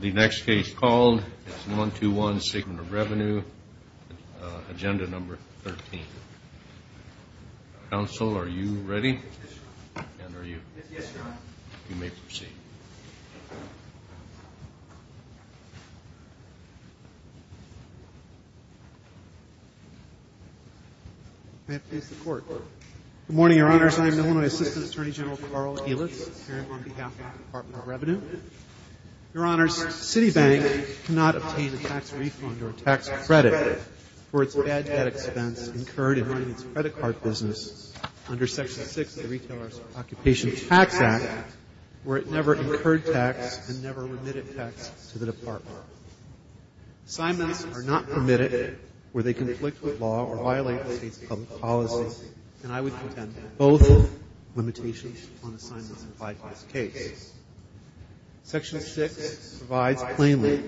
The next case called is 121, Segment of Revenue, Agenda Number 13. Counsel, are you ready? And are you? Yes, Your Honor. You may proceed. May I please have the Court? Good morning, Your Honors. I am Illinois Assistant Attorney General Carl Elis, appearing on behalf of the Department of Revenue. Your Honors, Citibank cannot obtain a tax refund or tax credit for its bad debt expense incurred in running its credit card business under Section 6 of the Retailer's Occupation Tax Act, where it never incurred tax and never remitted tax to the Department. Assignments are not permitted where they conflict with law or violate the State's public policy. And I would contend that both limitations on assignments apply to this case. Section 6 provides plainly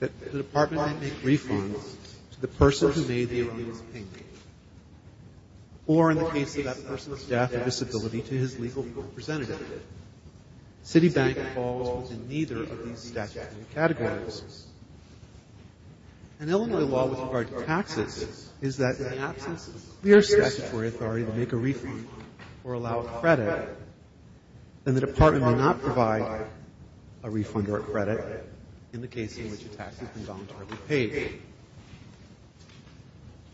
that the Department may make refunds to the person who made the alleged payment or, in the case of that person's death or disability, to his legal representative. Citibank falls within neither of these statutory categories. An Illinois law with regard to taxes is that in the absence of clear statutory authority to make a refund or allow a credit, then the Department may not provide a refund or a credit in the case in which a tax has been voluntarily paid.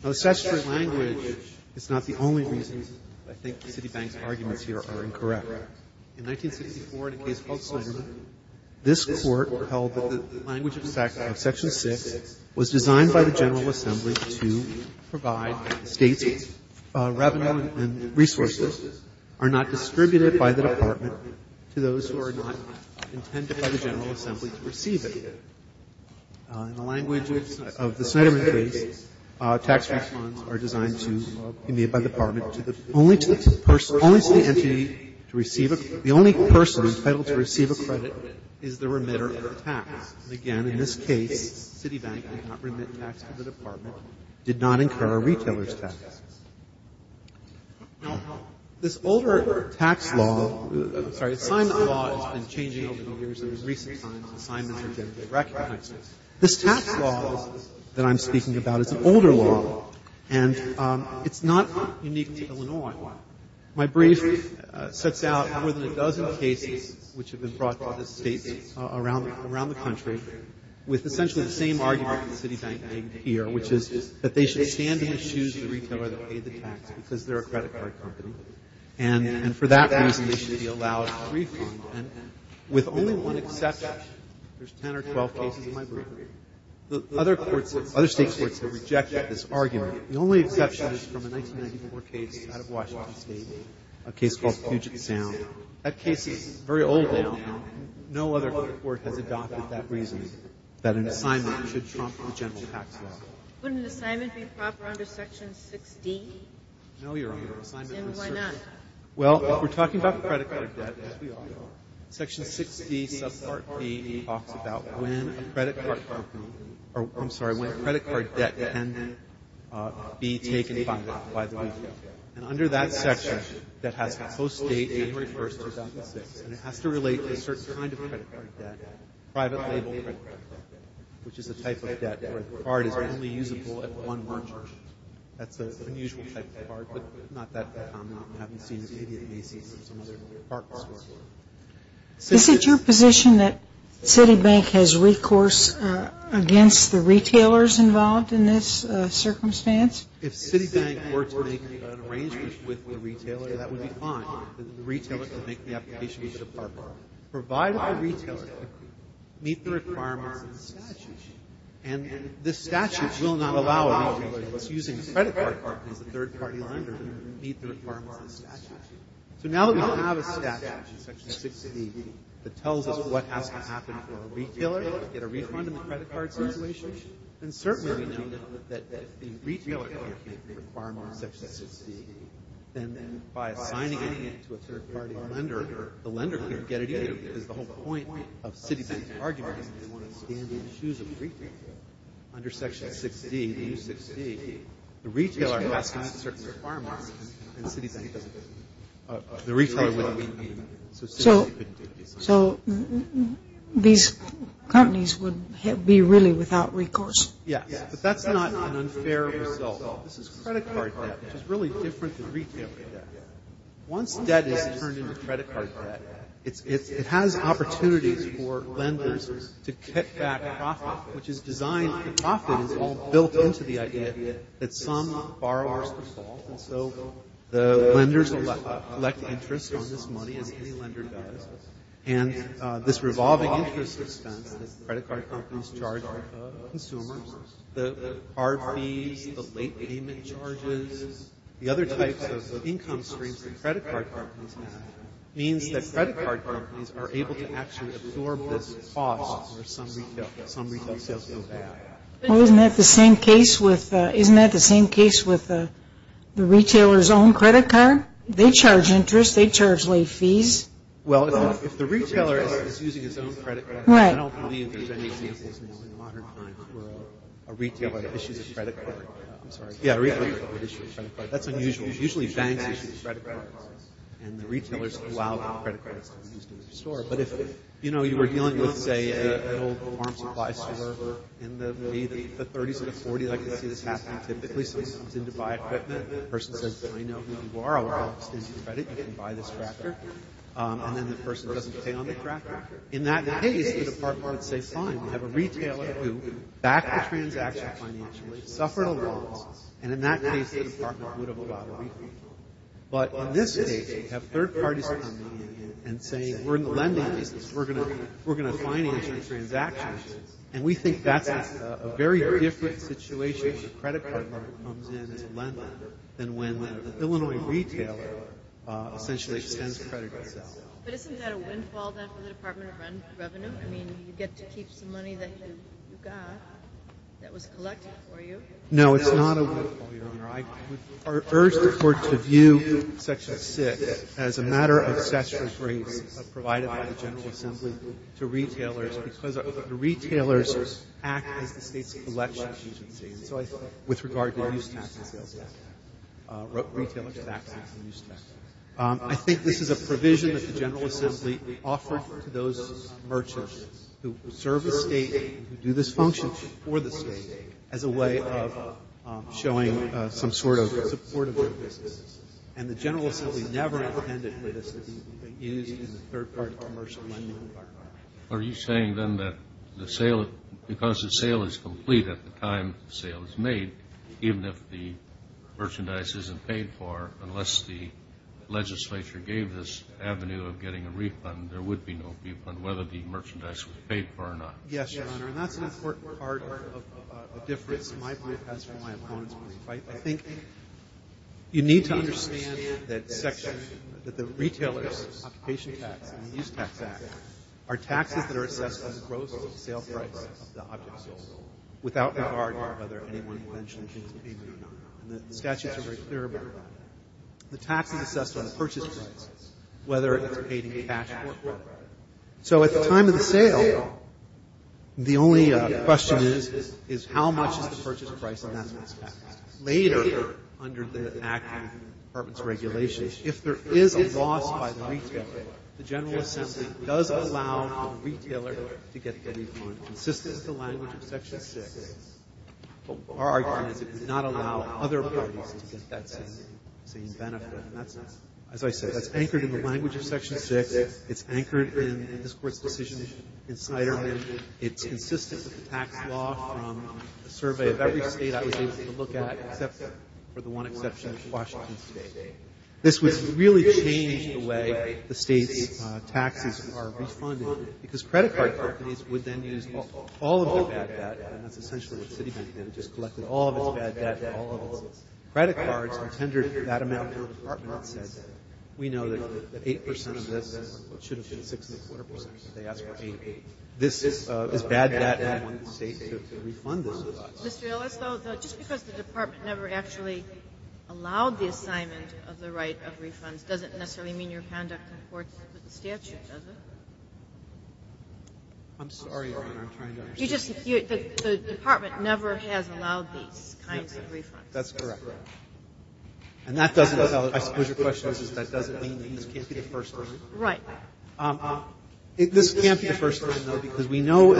Now, the statutory language is not the only reason I think Citibank's arguments here are incorrect. In 1964, in a case called Snyderman, this Court held that the language of Section 6 was designed by the General Assembly to provide State's revenue and resources are not distributed by the Department to those who are not intended by the General Assembly to receive it. In the language of the Snyderman case, tax refunds are designed to be made by the Department only to the person, only to the entity to receive a credit. The only person entitled to receive a credit is the remitter of the tax. And again, in this case, Citibank did not remit tax to the Department, did not incur a retailer's tax. Now, this older tax law, sorry, assignment law has been changing over the years. In recent times, assignments are generally recognized. This tax law that I'm speaking about is an older law, and it's not unique to Illinois. My brief sets out more than a dozen cases which have been brought to other States around the country with essentially the same argument that Citibank made here, which is that they should stand in the shoes of the retailer that paid the tax because they're a credit card company, and for that reason they should be allowed a refund. And with only one exception, there's 10 or 12 cases in my brief. The other courts, other State courts have rejected this argument. The only exception is from a 1994 case out of Washington State, a case called Puget Sound. That case is very old now. No other court has adopted that reasoning, that an assignment should trump the general tax law. Wouldn't an assignment be proper under Section 16? No, Your Honor. And why not? Well, if we're talking about credit card debt, as we all know, Section 60, subpart B talks about when a credit card company, or I'm sorry, when a credit card debt can be taken by the retailer. And under that section, that has a post-date, January 1, 2006, and it has to relate to a certain kind of credit card debt, private label credit card debt, which is a type of debt where the card is only usable at one merger. That's an unusual type of card, but not that common. I haven't seen it in Macy's or some other department stores. Is it your position that Citibank has recourse against the retailers involved in this circumstance? If Citibank were to make an arrangement with the retailer, that would be fine. The retailer could make the application to the department. Provided the retailer meets the requirements of the statute. And the statute will not allow a retailer that's using a credit card as a third-party lender to meet the requirements of the statute. So now that we don't have a statute in Section 60 that tells us what has to happen for a retailer to get a refund in the credit card situation, then certainly we know that if the retailer can't meet the requirements in Section 60, then by assigning it to a third-party lender, the lender can't get it either because the whole point of Citibank's is they want to stand in the shoes of the retailer. Under Section 60, the new 60, the retailer has to meet certain requirements, and Citibank doesn't. The retailer wouldn't meet them, so Citibank couldn't do it. So these companies would be really without recourse? Yes, but that's not an unfair result. This is credit card debt, which is really different than retailer debt. Once debt is turned into credit card debt, it has opportunities for lenders to kick back profit, which is designed, the profit is all built into the idea that some borrowers default, and so the lenders collect interest on this money as any lender does. And this revolving interest expense that credit card companies charge consumers, the car fees, the late payment charges, the other types of income streams that credit card companies have, means that credit card companies are able to actually absorb this cost for some retail sales. Well, isn't that the same case with the retailer's own credit card? They charge interest. They charge late fees. Well, if the retailer is using his own credit card, I don't believe there's any examples now in modern times where a retailer issues a credit card. I'm sorry. Yeah, a retailer issues a credit card. That's unusual. Usually banks issue credit cards, and the retailers allow credit cards to be used in their store. But if, you know, you were dealing with, say, an old farm supply store, and maybe the 30s or the 40s, I can see this happening typically, someone comes in to buy equipment, and the person says, I know who you are, I'll extend you credit, you can buy this tractor, and then the person doesn't pay on the tractor. In that case, the department would say, fine, we have a retailer who backed the transaction financially, suffered a loss, and in that case, the department would have allowed a refund. But in this case, you have third parties coming in and saying, we're in the lending business, we're going to finance your transactions, and we think that's a very different situation when a credit card lender comes in to lend them than when the Illinois retailer essentially extends credit itself. But isn't that a windfall then for the Department of Revenue? I mean, you get to keep some money that you got that was collected for you. No, it's not a windfall. I would urge the Court to view Section 6 as a matter of statutory grace provided by the General Assembly to retailers, because the retailers act as the state's collection agency with regard to use tax and sales tax, retailers tax and use tax. I think this is a provision that the General Assembly offered to those merchants who serve the state and do this function for the state as a way of showing some sort of support of their business. And the General Assembly never intended for this to be used in a third-party commercial lending environment. Are you saying then that because the sale is complete at the time the sale is made, even if the merchandise isn't paid for, unless the legislature gave this avenue of getting a refund, there would be no refund, whether the merchandise was paid for or not? Yes, Your Honor, and that's an important part of the difference. That's my point, and that's where my opponents are going to fight. I think you need to understand that the retailers' occupation tax and the use tax act are taxes that are assessed on the gross sale price of the objects sold, without regard to whether any money eventually comes in payment or not. And the statutes are very clear about that. The tax is assessed on the purchase price, whether it's paid in cash or credit. So at the time of the sale, the only question is, is how much is the purchase price, and that's what's taxed. Later, under the Act and the Department's regulations, if there is a loss by the retailer, the General Assembly does allow the retailer to get a refund, consistent with the language of Section 6. Our argument is it would not allow other parties to get that same benefit. And that's not as I said. That's anchored in the language of Section 6. It's anchored in this Court's decision in Snyderman. It's consistent with the tax law from a survey of every state I was able to look at, except for the one exception of Washington State. This would really change the way the state's taxes are refunded, because credit card companies would then use all of their bad debt, and that's essentially what Citibank did. It just collected all of its bad debt from all of its credit cards and tendered that amount out to the Department and said, we know that 8 percent of this should have been 6.25 percent. They asked for 8. This is bad debt, and I want the state to refund this. Mr. Ellis, though, just because the Department never actually allowed the assignment of the right of refunds doesn't necessarily mean your conduct comports with the statute, does it? I'm sorry, Your Honor. I'm trying to understand. The Department never has allowed these kinds of refunds. That's correct. And that doesn't tell us, I suppose your question is, that doesn't mean that this can't be the first time. Right. This can't be the first time, though, because we know,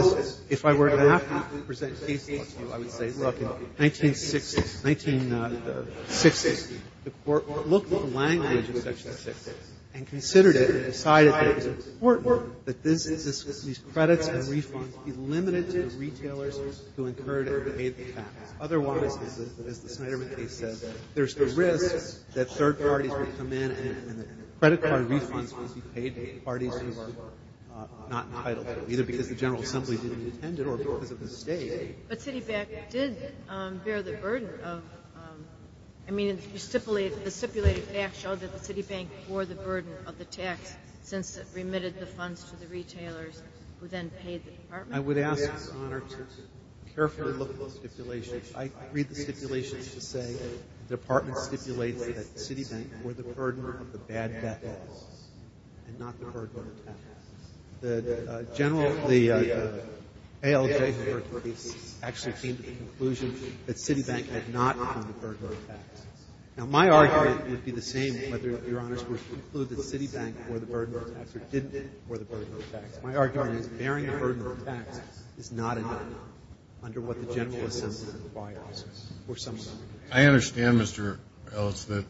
if I were to have to present cases to you, I would say, look, in 1960, the Court looked at the language of Section 6 and considered it and decided that it was important that these credits and refunds be limited to the retailers who incurred it and paid the tax. Otherwise, as the Snyderman case says, there's the risk that third parties would come in and credit card refunds would be paid to parties who were not entitled to it, either because the General Assembly didn't intend it or because of the state. But Citibank did bear the burden of, I mean, the stipulated facts show that the Citibank bore the burden of the tax since it remitted the funds to the retailers who then paid the Department. I would ask, Your Honor, to carefully look at those stipulations. I read the stipulations to say the Department stipulates that Citibank bore the burden of the bad debt laws and not the burden of the tax. The general, the ALJ heard the case, actually came to the conclusion that Citibank had not borne the burden of the tax. Now, my argument would be the same whether Your Honors would conclude that Citibank bore the burden of the tax or didn't bore the burden of the tax. My argument is bearing the burden of the tax is not enough under what the General Assembly requires. I understand, Mr. Ellis, that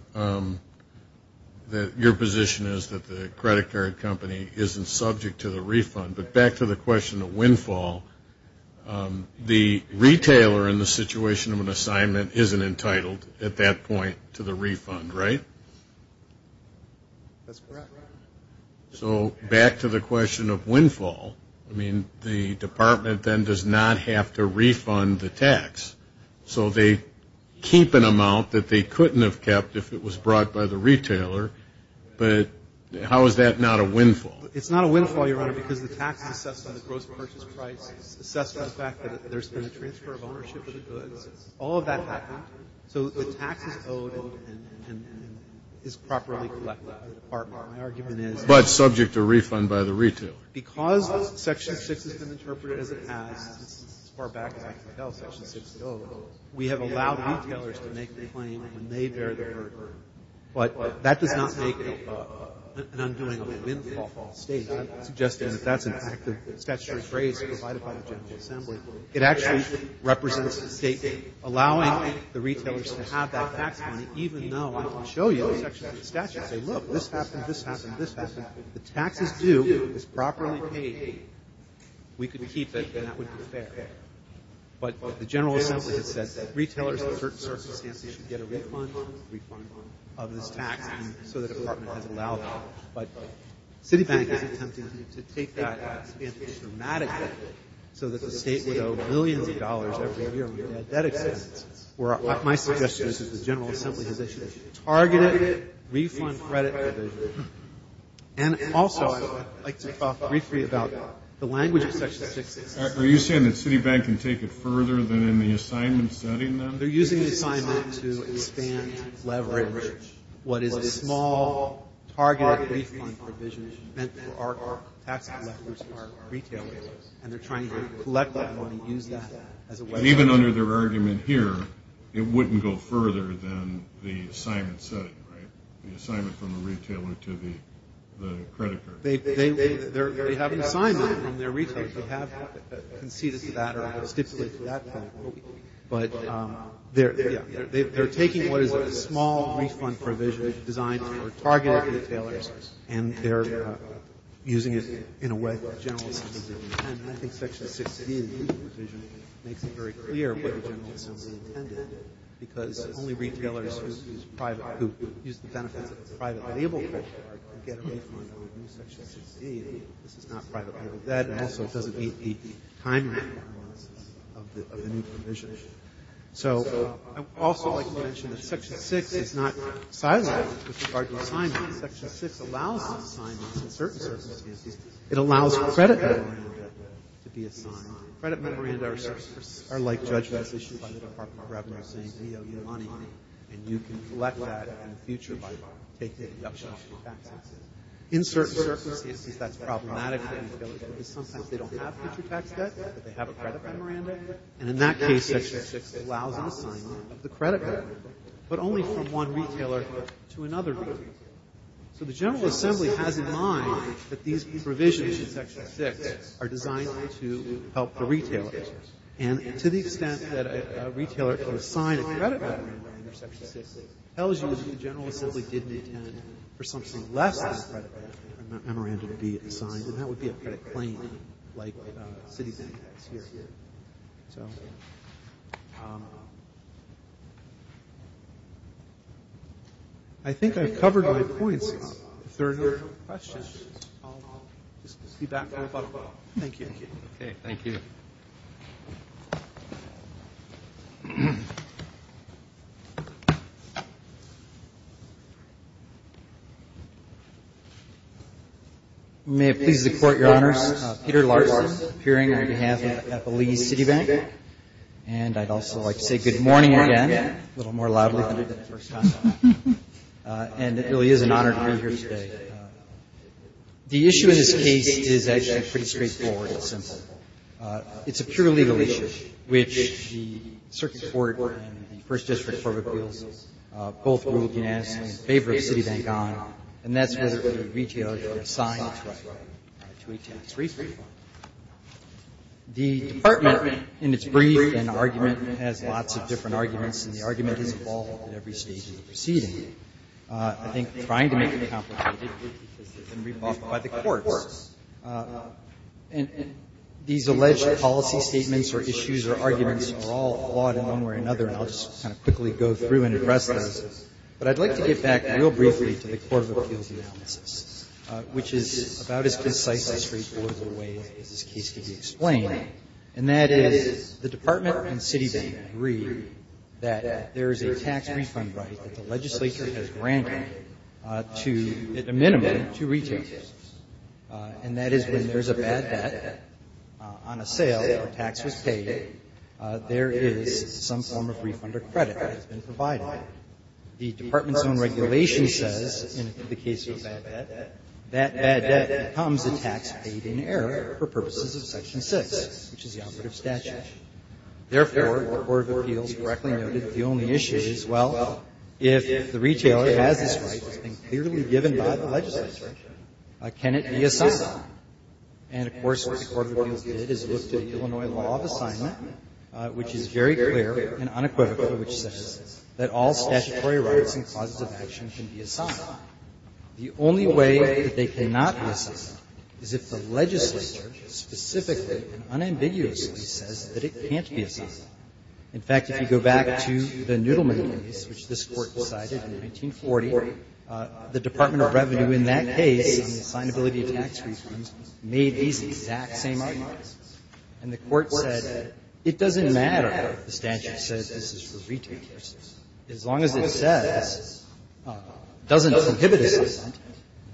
your position is that the credit card company isn't subject to the refund. But back to the question of windfall, the retailer in the situation of an assignment isn't entitled at that point to the refund, right? That's correct. So back to the question of windfall, I mean, the Department then does not have to refund the tax. So they keep an amount that they couldn't have kept if it was brought by the retailer. But how is that not a windfall? It's not a windfall, Your Honor, because the tax is assessed by the gross purchase price, assessed by the fact that there's been a transfer of ownership of the goods. All of that happened. So the tax is owed and is properly collected by the Department. My argument is that because Section 6 has been interpreted as it has, as far back as I can tell, Section 6 is owed, we have allowed retailers to make the claim when they bear the burden. But that does not make an undoing of the windfall false statement. I'm suggesting that that's, in fact, the statutory phrase provided by the General Assembly. It actually represents a statement allowing the retailers to have that tax money, even though I can show you the section of the statute and say, look, this happened, this happened, this happened. The tax is due. It's properly paid. We can keep it, and that would be fair. But the General Assembly has said that retailers in certain circumstances should get a refund of this tax, and so the Department has allowed that. But Citibank is attempting to take that advantage dramatically, so that the State would owe millions of dollars every year on the debt expense. My suggestion is that the General Assembly has issued a targeted refund credit provision. And also, I'd like to talk briefly about the language of Section 6. Are you saying that Citibank can take it further than in the assignment setting, then? They're using the assignment to expand leverage. What is a small, targeted refund provision meant for our tax collectors, our retailers, and they're trying to collect that money, use that as a way out. Even under their argument here, it wouldn't go further than the assignment setting, right, the assignment from the retailer to the creditor. They have an assignment from their retailers. They have conceded to that or have stipulated to that fact. But they're taking what is a small refund provision designed for targeted retailers, and they're using it in a way that the General Assembly didn't intend. And I think Section 6d of the provision makes it very clear what the General Assembly intended, because only retailers who use the benefits of a private, get a refund on Section 6d. This is not private. That also doesn't meet the time frame of the new provision. So I'd also like to mention that Section 6 is not siloed with regard to assignments. Section 6 allows assignments in certain circumstances. It allows credit memoranda to be assigned. Credit memoranda are like judgments issued by the Department of Revenue saying, and you can collect that in the future by taking the option of a tax exit. In certain circumstances, that's problematic for retailers, because sometimes they don't have future tax debt, but they have a credit memoranda. And in that case, Section 6 allows an assignment of the credit memoranda, but only from one retailer to another retailer. So the General Assembly has in mind that these provisions in Section 6 are designed to help the retailers. And to the extent that a retailer can assign a credit memoranda under Section 6, it tells you that the General Assembly didn't intend for something less than a credit memoranda to be assigned, and that would be a credit claim like Citi's index here. So I think I've covered my points. If there are no further questions, I'll just be back in a couple of minutes. Thank you. Okay. Thank you. May it please the Court, Your Honors. Peter Larson, appearing on behalf of Epelease Citibank. And I'd also like to say good morning again, a little more loudly than the first time. And it really is an honor to be here today. The issue in this case is actually pretty straightforward and simple. It's a pure legal issue, which the Circuit Court and the First District Court of Appeals both ruled unanimously in favor of Citibank on. And that's where the retailer can assign its right to a tax refund. The Department, in its brief and argument, has lots of different arguments, and the argument is involved at every stage of the proceeding. I think trying to make it complicated has been briefed by the courts. And these alleged policy statements or issues or arguments are all flawed in one way or another, and I'll just kind of quickly go through and address those. But I'd like to get back real briefly to the Court of Appeals' analysis, which is about as concise and straightforward of a way as this case can be explained. And that is the Department and Citibank agree that there is a tax refund right that the legislature has granted to, at the minimum, to retailers. And that is when there's a bad debt on a sale or a tax was paid, there is some form of refund or credit that has been provided. The Department's own regulation says, in the case of a bad debt, that bad debt becomes a tax paid in error for purposes of Section 6, which is the operative statute. Therefore, the Court of Appeals correctly noted the only issue is, well, if the retailer has this right that's been clearly given by the legislature, can it be assigned? And, of course, what the Court of Appeals did is look to the Illinois law of assignment, which is very clear and unequivocal, which says that all statutory rights and clauses of action can be assigned. The only way that they cannot be assigned is if the legislature specifically and unambiguously says that it can't be assigned. In fact, if you go back to the Noodleman case, which this Court decided in 1940, the Department of Revenue in that case, on the assignability of tax refunds, made these exact same arguments. And the Court said, it doesn't matter if the statute says this is for retailers. As long as it says it doesn't prohibit assignment,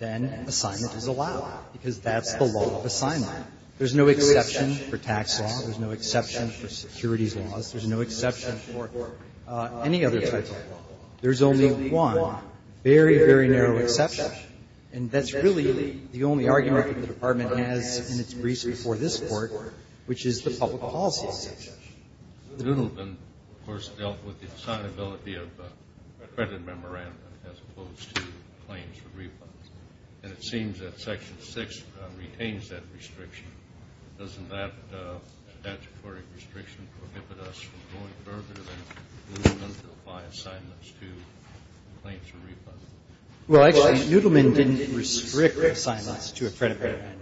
then assignment is allowed, because that's the law of assignment. There's no exception for tax law. There's no exception for securities laws. There's no exception for any other type of law. There's only one very, very narrow exception, and that's really the only argument that the Department has in its briefs before this Court, which is the public policy exception. Kennedy, of course, dealt with the assignability of a credit memorandum as opposed to claims for refunds. And it seems that Section 6 retains that restriction. Doesn't that statutory restriction prohibit us from going further than Noodleman to apply assignments to claims for refunds? Well, actually, Noodleman didn't restrict assignments to a credit memorandum.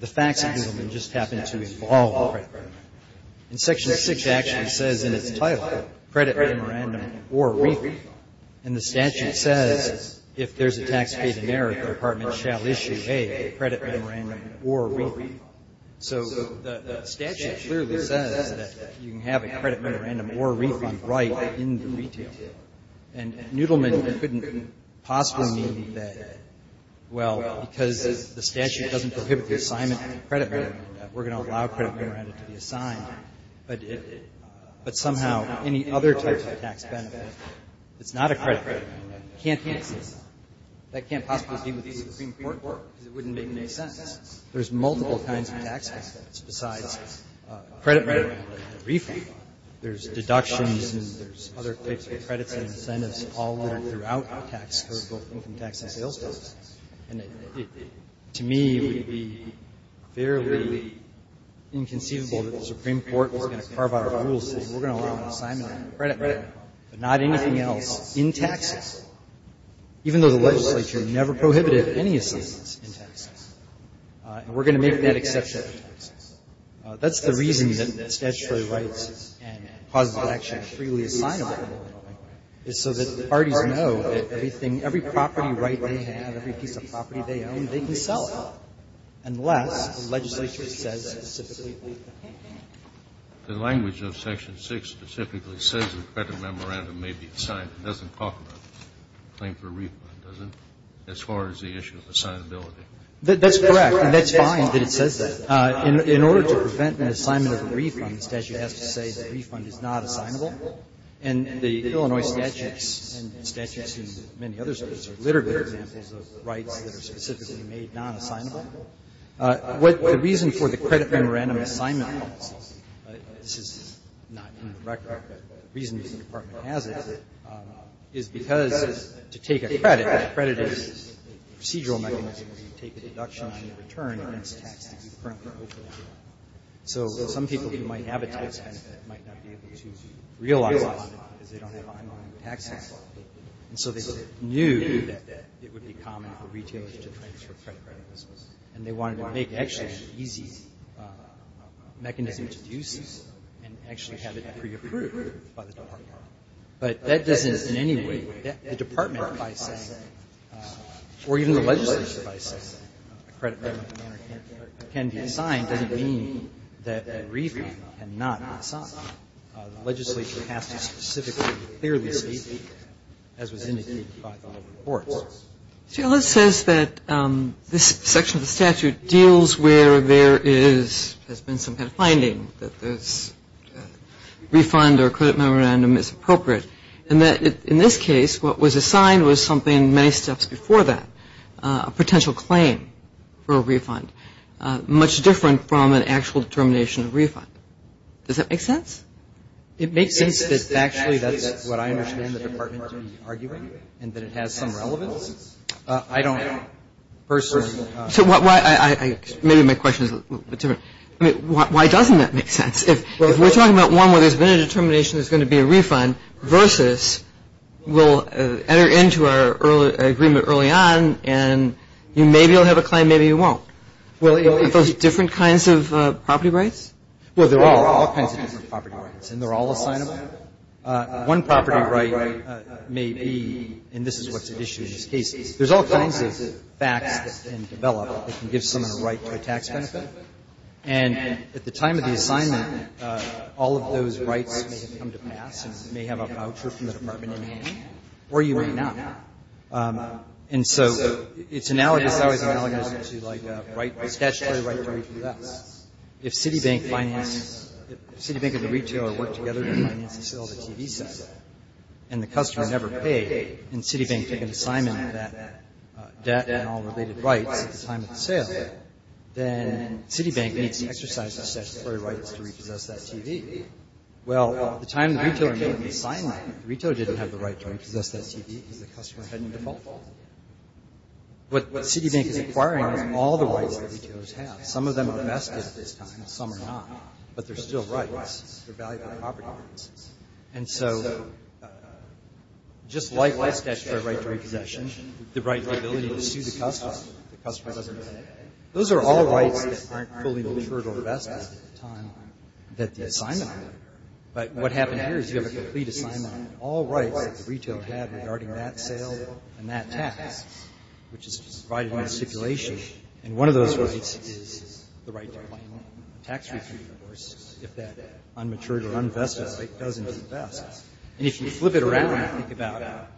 The facts of Noodleman just happened to involve a credit memorandum. And Section 6 actually says in its title, credit memorandum or refund. And the statute says, if there's a tax paid in merit, the Department shall issue, hey, a credit memorandum or a refund. So the statute clearly says that you can have a credit memorandum or a refund right in the retail. And Noodleman couldn't possibly mean that, well, because the statute doesn't prohibit the assignment of a credit memorandum, that we're going to allow credit memorandum to be assigned. But somehow, any other type of tax benefit that's not a credit memorandum can't be assigned. That can't possibly be with the Supreme Court because it wouldn't make any sense. There's multiple kinds of tax benefits besides a credit memorandum and a refund. There's deductions, and there's other types of credits and incentives, all that are throughout taxable income tax and sales tax. And to me, it would be fairly inconceivable that the Supreme Court was going to carve out our rules and say, we're going to allow an assignment of a credit memorandum, but not anything else in taxes, even though the legislature never prohibited any assignments in taxes. And we're going to make that exception. That's the reason that statutory rights and positive action are freely assignable, is so that parties know that everything, every property right they have, every piece of property they own, they can sell it, unless the legislature says specifically that they can't. Kennedy. The language of Section 6 specifically says that a credit memorandum may be assigned. It doesn't talk about a claim for a refund, does it, as far as the issue of assignability? That's correct. And that's fine that it says that. In order to prevent an assignment of a refund, the statute has to say the refund is not assignable. And the Illinois statutes and statutes in many other states are literary examples of rights that are specifically made nonassignable. The reason for the credit memorandum assignment policy, this is not in the record, but the reason the Department has it is because to take a credit, a credit is a procedural mechanism where you take a deduction on your return against a tax that you currently owe. So some people who might have a tax benefit might not be able to realize a high amount because they don't have a high amount in the tax tax law, and so they knew that it would be common for retailers to transfer credit, and they wanted to make it actually an easy mechanism to use and actually have it pre-approved by the Department. But that doesn't in any way, the Department by saying, or even the legislature by saying a credit memorandum can be assigned doesn't mean that a refund cannot be assigned. The legislature has to specifically clearly state that, as was indicated by the reports. See, it says that this section of the statute deals where there has been some kind of finding that this refund or credit memorandum is appropriate, and that in this case, what was assigned was something many steps before that, a potential claim for a refund, much different from an actual determination of refund. Does that make sense? It makes sense that actually that's what I understand the Department to be arguing, and that it has some relevance. I don't know. Maybe my question is a little bit different. Why doesn't that make sense? If we're talking about one where there's been a determination there's going to be a refund, versus we'll enter into our agreement early on, and maybe you'll have a claim, maybe you won't. Are those different kinds of property rights? Well, there are all kinds of property rights, and they're all assignable. One property right may be, and this is what's at issue in this case, there's all kinds of facts that can develop that can give someone a right to a tax benefit, and at the time of the assignment, all of those rights may have come to pass and may have a voucher from the Department in hand, or you may not. And so it's analogous, it's always analogous to, like, a statutory right to refuse. If Citibank and the retailer work together to finance the sale of a TV set, and the customer never paid, and Citibank took an assignment of that debt and all related rights at the time of the sale, then Citibank needs to exercise the statutory rights to repossess that TV. Well, at the time the retailer made the assignment, the retailer didn't have the right to repossess that TV because the customer had no default. What Citibank is acquiring is all the rights that retailers have. Some of them are vested at this time and some are not, but they're still rights. They're value-added property rights. And so just like by statutory right to repossession, the right to the ability to sue the customer if the customer doesn't pay, those are all rights that aren't fully referred or vested at the time that the assignment occurred. But what happened here is you have a complete assignment on all rights that the retailer had regarding that sale and that tax, which is provided in the stipulation, and one of those rights is the right to claim a tax refund, of course, if that unmatured or unvested state doesn't invest. And if you flip it around and think about,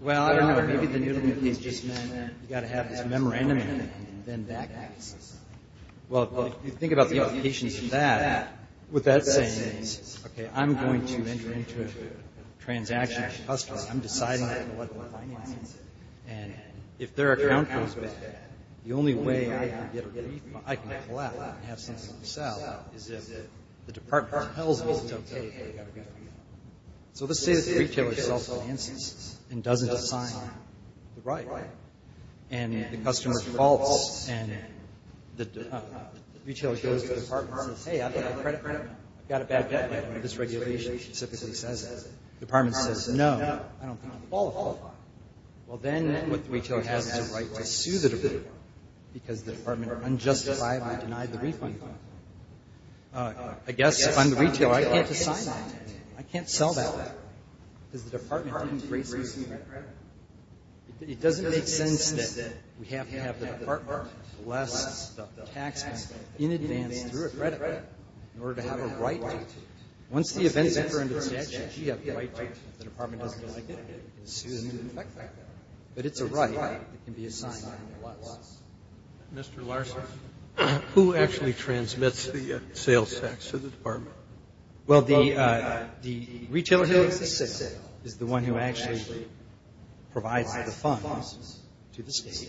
well, I don't know, maybe the Newden case just meant you've got to have this memorandum and then that acts. Well, if you think about the implications of that, what that's saying is, okay, I'm deciding I'm going to let them finance it, and if their account goes bad, the only way I can get a refund, I can collect and have something to sell, is if the department compels me to tell the retailer they've got to get a refund. So let's say that the retailer self-finances and doesn't assign the right, and the customer faults, and the retailer goes to the department and says, hey, I've got a credit credit, I've got a bad debt, and this regulation specifically says that. The department says, no, I don't think you qualify. Well, then what the retailer has is the right to sue the department because the department unjustified and denied the refund. I guess if I'm the retailer, I can't assign that. I can't sell that because the department didn't grace me with that. It doesn't make sense that we have to have the department bless the taxpayer in advance through a credit in order to have a right. Once the events occur under the statute, we have the right to, if the department doesn't like it, sue them and affect them. But it's a right that can be assigned to us. Roberts. Who actually transmits the sales tax to the department? Well, the retailer who is the one who actually provides the funds to the State,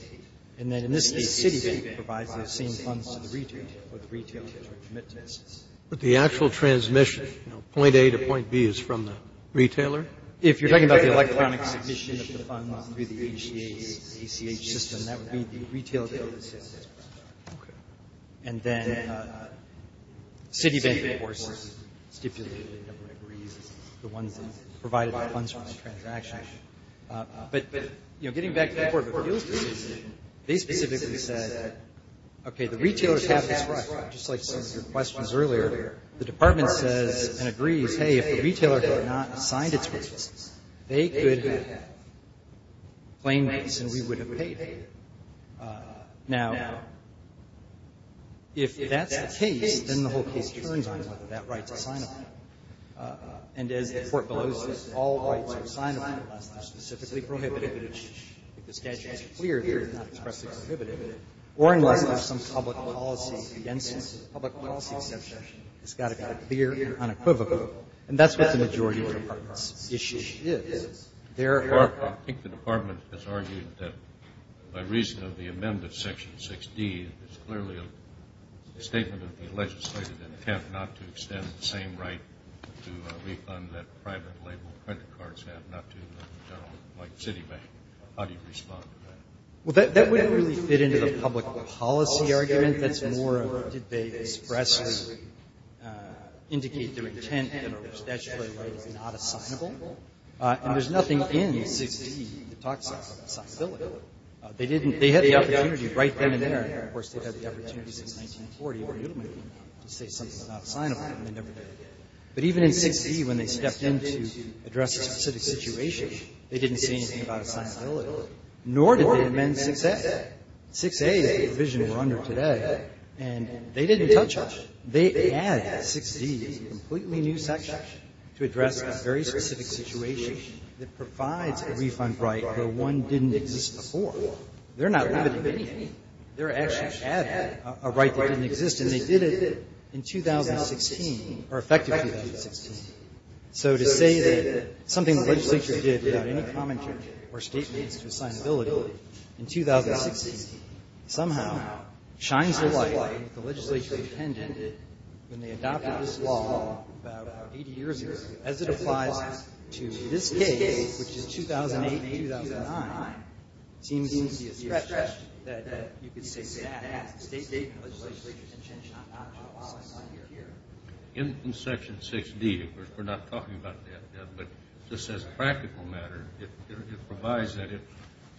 and then in this case, the City provides the same funds to the retailer, but the actual transmission, you know, point A to point B is from the retailer. If you're talking about the electronic submission of the funds through the ACA system, that would be the retailer that does the sales tax. Okay. And then City Bank, of course, stipulated that it would agree with the ones that provided the funds for the transaction. But, you know, getting back to the Court of Appeals decision, they specifically said, okay, the retailers have this right, just like some of your questions earlier. The department says and agrees, hey, if the retailer had not assigned its rights, they could claim this and we would have paid them. Now, if that's the case, then the whole case turns on whether that right is assignable. And as the Court bellows, all rights are assignable unless they're specifically prohibited. If the statute is clear, they're not expressly prohibited. Or unless there's some public policy against it, the public policy exception has got to be clear and unequivocal. And that's what the majority of the department's issue is. Therefore, I think the department has argued that by reason of the amendment of Section 6D, it's clearly a statement of the legislative intent not to extend the same right to refund that private label credit cards have, not to the general, like Citibank. How do you respond to that? Well, that wouldn't really fit into the public policy argument. That's more of did they expressly indicate their intent that a statutory right is not assignable? And there's nothing in 6D that talks about assignability. They didn't. They had the opportunity right then and there. And, of course, they've had the opportunity since 1940 to say something's not assignable and they never did. But even in 6D, when they stepped in to address a specific situation, they didn't say anything about assignability. Nor did they amend 6A. 6A is the provision we're under today. And they didn't touch it. They added 6D as a completely new section to address a very specific situation that provides a refund right where one didn't exist before. They're not limiting anything. They're actually adding a right that didn't exist. And they did it in 2016, or effectively in 2016. So to say that something the legislature did without any commentary or statements to assignability in 2016 somehow shines a light that the legislature intended when they adopted this law about 80 years ago, as it applies to this case, which is 2008 to 2009, seems to be a stretch that you could say that has a statement of the legislature's intention not to abolish it here. In Section 6D, of course, we're not talking about debt, but just as a practical matter, it provides that if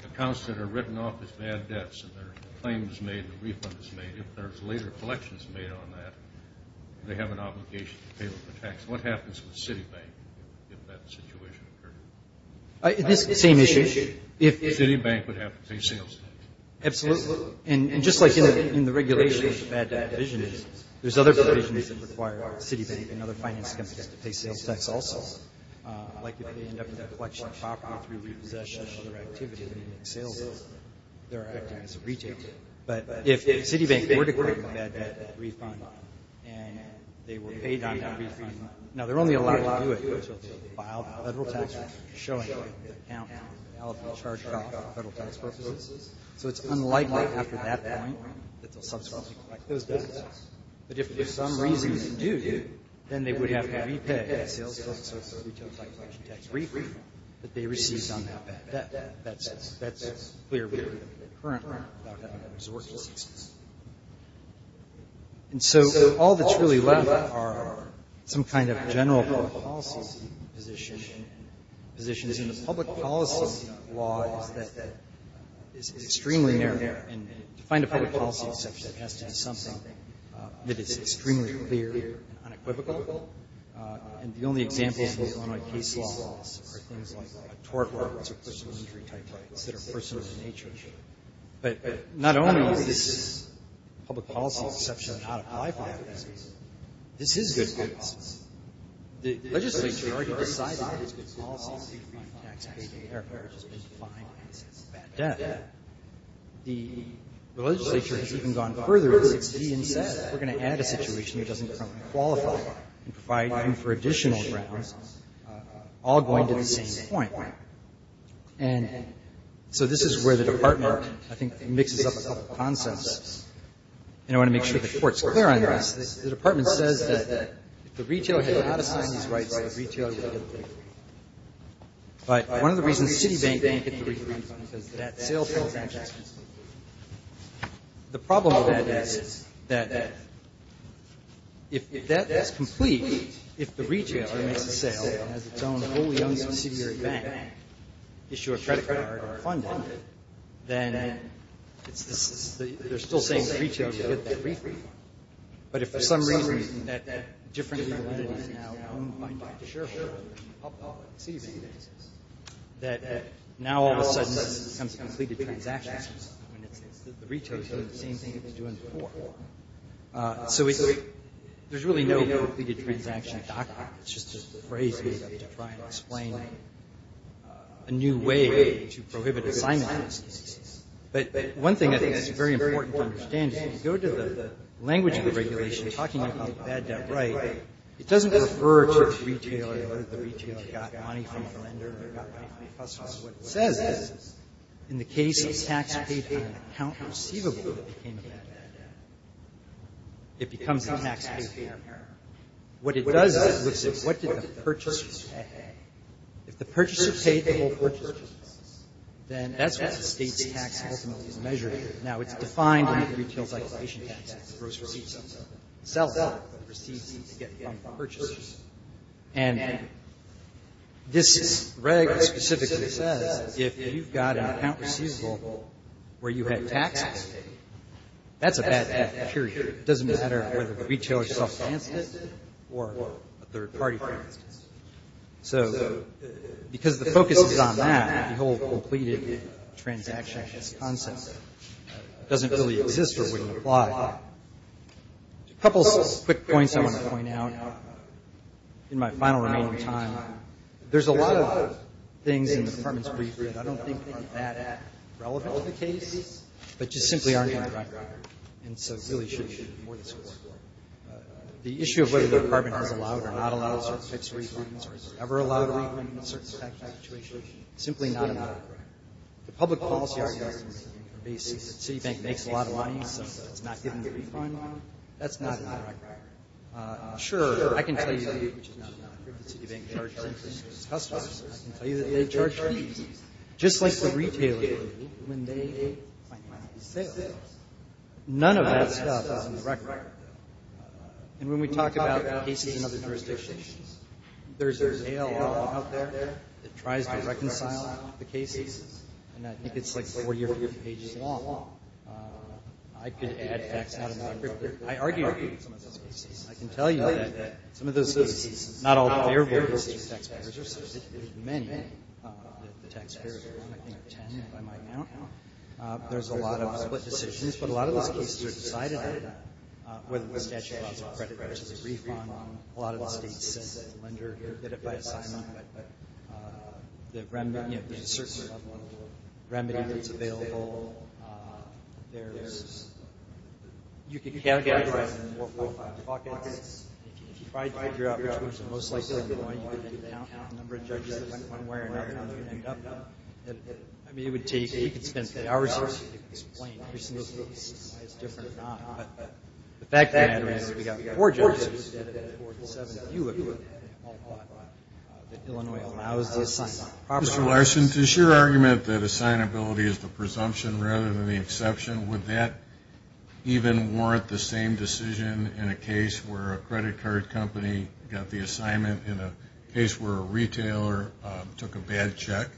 accounts that are written off as bad debts and their claim is made, the refund is made, if there's later collections made on that, they have an obligation to pay off the tax. What happens with Citibank if that situation occurred? It's the same issue. Citibank would have to pay sales tax. Absolutely. And just like in the regulation of the bad debt division, there's other provisions that require Citibank and other finance companies to pay sales tax also. Like if they end up with a collection of property through repossession or other activity when they make sales, they're acting as a retailer. But if Citibank were to collect a bad debt refund and they were paid the refund, now, they're only allowed to do it until they file a federal tax return showing that the account and the alimony charged are for federal tax purposes. So it's unlikely after that point that they'll subsequently collect those debts. But if for some reason they do, then they would have to repay a sales tax or a retail tax collection tax refund that they received on that bad debt. That's clearly occurring without having to resort to citizenship. And so all that's really left are some kind of general public policy position. And the public policy law is extremely narrow. And to find a public policy exception has to have something that is extremely clear and unequivocal. And the only examples of Illinois case laws are things like a tort law or courts of personal injury type rights that are personal in nature. But not only is this public policy exception not applied for that reason, this is good news. The legislature already decided that these policies, the refund, tax payday, airfare, has been defined as bad debt. The legislature has even gone further and said, we're going to add a situation that doesn't currently qualify and provide room for additional grounds, all going to the same point. And so this is where the Department, I think, mixes up a couple of concepts. And I want to make sure the Court's clear on this. The Department says that if the retailer had not assigned these rights, the retailer would have been paid. But one of the reasons Citibank didn't get the refund is because of that sales tax refund. The problem with that is that if that's complete, if the retailer makes a sale and has its own wholly owned subsidiary bank, issue a credit card or fund it, then they're still saying the retailer should get that refund. But if for some reason that different community is now owned by the shareholder of Citibank, that now all of a sudden this becomes completed transactions. I mean, the retailer is doing the same thing it was doing before. So there's really no completed transaction document. It's just a phrase made up to try and explain a new way to prohibit assignments. But one thing I think that's very important to understand is when you go to the language of regulation talking about bad debt right, it doesn't refer to the retailer or the retailer got money from a lender or got money from a customer. What it says is in the case of taxpaying an account receivable that became a bad debt, it becomes a taxpayer. What it does is it looks at what did the purchaser pay. If the purchaser paid the whole purchase price, then that's what the State's tax ultimately is measuring. Now, it's defined in the retail circulation tax. The seller receives the money from the purchaser. And this reg specifically says if you've got an account receivable where you had taxes, that's a bad debt period. It doesn't matter whether the retailer self-advanced it or a third party financed it. So because the focus is on that, the whole completed transaction is constant. It doesn't really exist or wouldn't apply. A couple quick points I want to point out in my final remaining time. There's a lot of things in the Department's brief that I don't think are that relevant to the case, but just simply aren't in the record. And so it really should be more this way. The issue of whether the Department has allowed or not allowed certain types of refunds or has it ever allowed a refund in a certain type of situation is simply not in the record. The public policy argument is that the Citibank makes a lot of money, so if it's not given a refund, that's not in the record. Sure, I can tell you that the Citibank charges interest to its customers. I can tell you that they charge fees. Just like the retailer when they make financial sales, none of that stuff is in the record. And when we talk about cases and other jurisdictions, there's an ALR out there that tries to reconcile the cases. And I think it's like 40 or 50 pages long. I could add facts. I argue with some of those cases. I can tell you that some of those cases are not all bearable to taxpayers. There's many that the taxpayers want, I think 10 by my count. There's a lot of split decisions, but a lot of those cases are decided on, whether the statute allows a credit card to be refunded. A lot of the states send a lender to get it by assignment. There's a certain level of remedy that's available. You can count the address in four or five pockets. If you try to figure out which ones are most likely to go in, you can count the number of judges that went one way or another. I mean, it would take, you could spend hours explaining. It's different or not. The fact of the matter is we've got four judges, and four to seven of you have all thought that Illinois allows the assignment. Mr. Larson, does your argument that assignability is the presumption rather than the exception, would that even warrant the same decision in a case where a credit card company got the assignment in a case where a retailer took a bad check?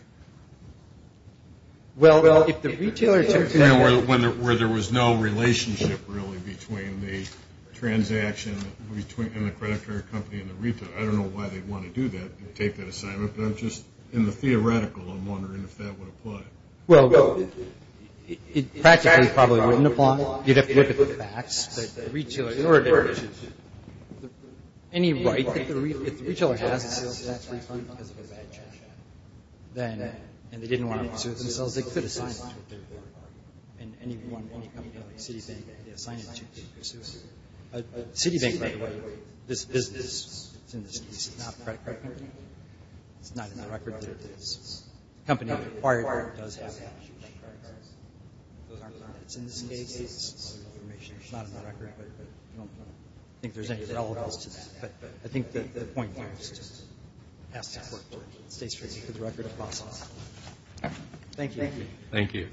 Well, if the retailer took a bad check… Where there was no relationship really between the transaction and the credit card company and the retailer. I don't know why they'd want to do that and take that assignment, but I'm just, in the theoretical, I'm wondering if that would apply. Well, it practically probably wouldn't apply. You'd have to look at the facts. In order to… Any right that the retailer has, if that's refunded because of a bad check, and they didn't want to excuse themselves, they could have put a sign on it. And any company like Citibank, they assign it to, because Citibank, by the way, this business, it's in this case, it's not a credit card company. It's not in the record that the company that acquired it does have that. It's in this case. It's not in the record, but I don't think there's any relevance to that. But I think that the point here is to ask support for it. It stays for the record, if possible. Thank you. Thank you.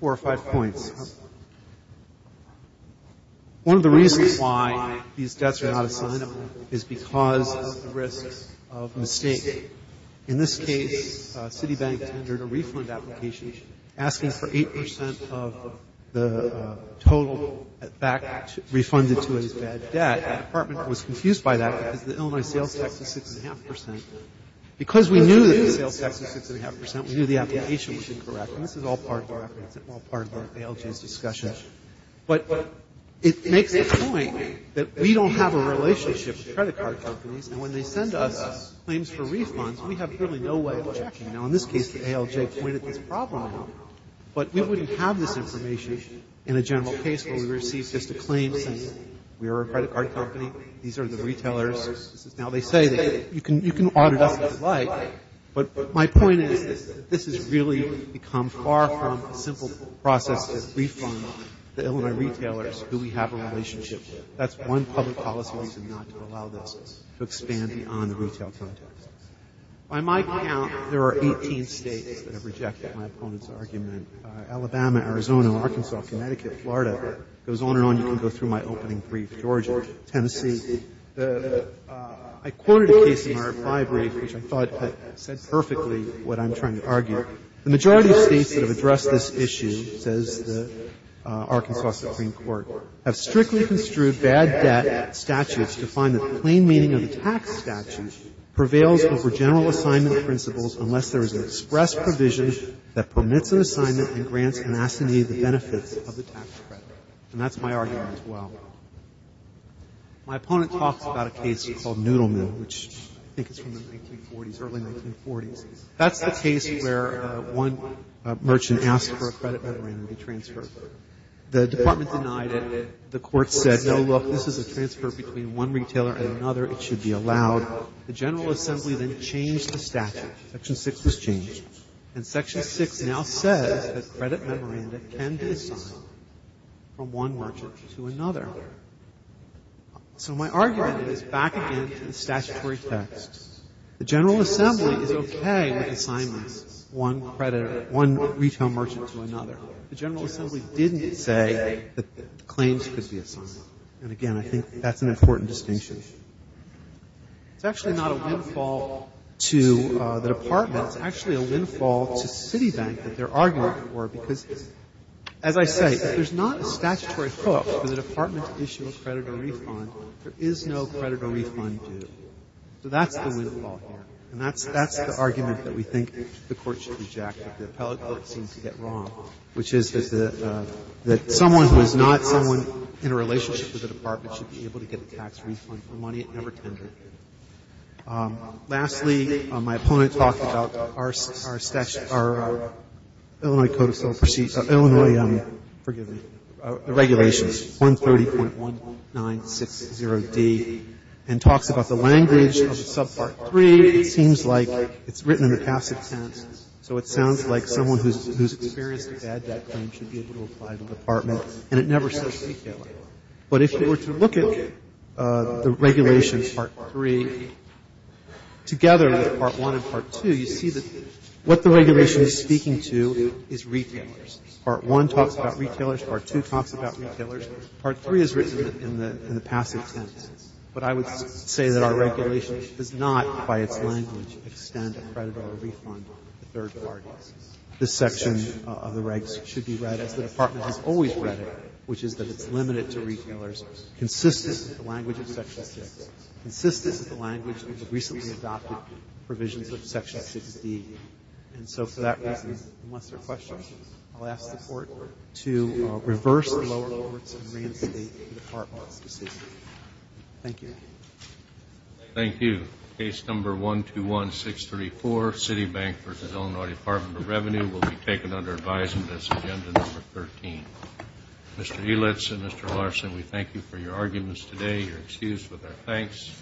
Four or five points. One of the reasons why these debts are not assigned is because of the risk of mistake. In this case, Citibank tendered a refund application asking for 8% of the total back refunded to its bad debt. The department was confused by that because the Illinois sales tax is 6.5%. Because we knew that the sales tax was 6.5%, we knew the application was incorrect. And this is all part of the record. It's all part of the ALJ's discussion. But it makes the point that we don't have a relationship with credit card companies. And when they send us claims for refunds, we have really no way of checking. Now, in this case, the ALJ pointed this problem out. But we wouldn't have this information in a general case where we received just a claim saying, we are a credit card company, these are the retailers. Now, they say that you can audit us as you like. But my point is that this has really become far from a simple process to refund the Illinois retailers who we have a relationship with. That's one public policy reason not to allow this to expand beyond the retail context. By my count, there are 18 states that have rejected my opponent's argument. Alabama, Arizona, Arkansas, Connecticut, Florida. It goes on and on. You can go through my opening brief. Georgia, Tennessee. I quoted a case in my RFI brief which I thought said perfectly what I'm trying to argue. The majority of states that have addressed this issue, says the Arkansas Supreme Court, have strictly construed bad debt statutes to find that the plain meaning of the tax statute prevails over general assignment principles unless there is an express provision that permits an assignment and grants an assignee the benefits of the tax credit. And that's my argument as well. My opponent talks about a case called Noodle Mill, which I think is from the 1940s, early 1940s. That's the case where one merchant asked for a credit memorandum to be transferred. The Department denied it. The Court said, no, look, this is a transfer between one retailer and another. It should be allowed. The General Assembly then changed the statute. Section 6 was changed. And Section 6 now says that credit memoranda can be assigned from one merchant to another. So my argument is back again to the statutory text. The General Assembly is okay with assignments, one creditor, one retail merchant to another. The General Assembly didn't say that claims could be assigned. And again, I think that's an important distinction. It's actually not a windfall to the Department. It's actually a windfall to Citibank that they're arguing for because, as I say, if there's not a statutory hook for the Department to issue a credit or refund, there is no credit or refund due. So that's the windfall here. And that's the argument that we think the Court should reject, that the appellate court seems to get wrong, which is that someone who is not someone in a relationship with the Department should be able to get a tax refund for money it never tended. Lastly, my opponent talked about our Illinois Code of Civil Proceeds or Illinois, forgive me, Regulations 130.1960D and talks about the language of Subpart 3. It seems like it's written in the passive tense, so it sounds like someone who's experienced a bad debt claim should be able to apply to the Department, and it never says retailer. But if you were to look at the Regulations Part 3, together with Part 1 and Part 2, you see that what the Regulation is speaking to is retailers. Part 1 talks about retailers. Part 2 talks about retailers. Part 3 is written in the passive tense. But I would say that our Regulation does not, by its language, extend a credit or a refund to third parties. This section of the Regs should be read as the Department has always read it, which is that it's limited to retailers, consistent with the language of Section 6, consistent with the language of the recently adopted provisions of Section 6d. And so for that reason, unless there are questions, I'll ask the Court to reverse the lower courts and reinstate the Department's decision. Thank you. Thank you. Case Number 121634, City Bank v. Illinois Department of Revenue, will be taken under advisement as Agenda Number 13. Mr. Elitz and Mr. Larson, we thank you for your arguments today. You're excused with our thanks.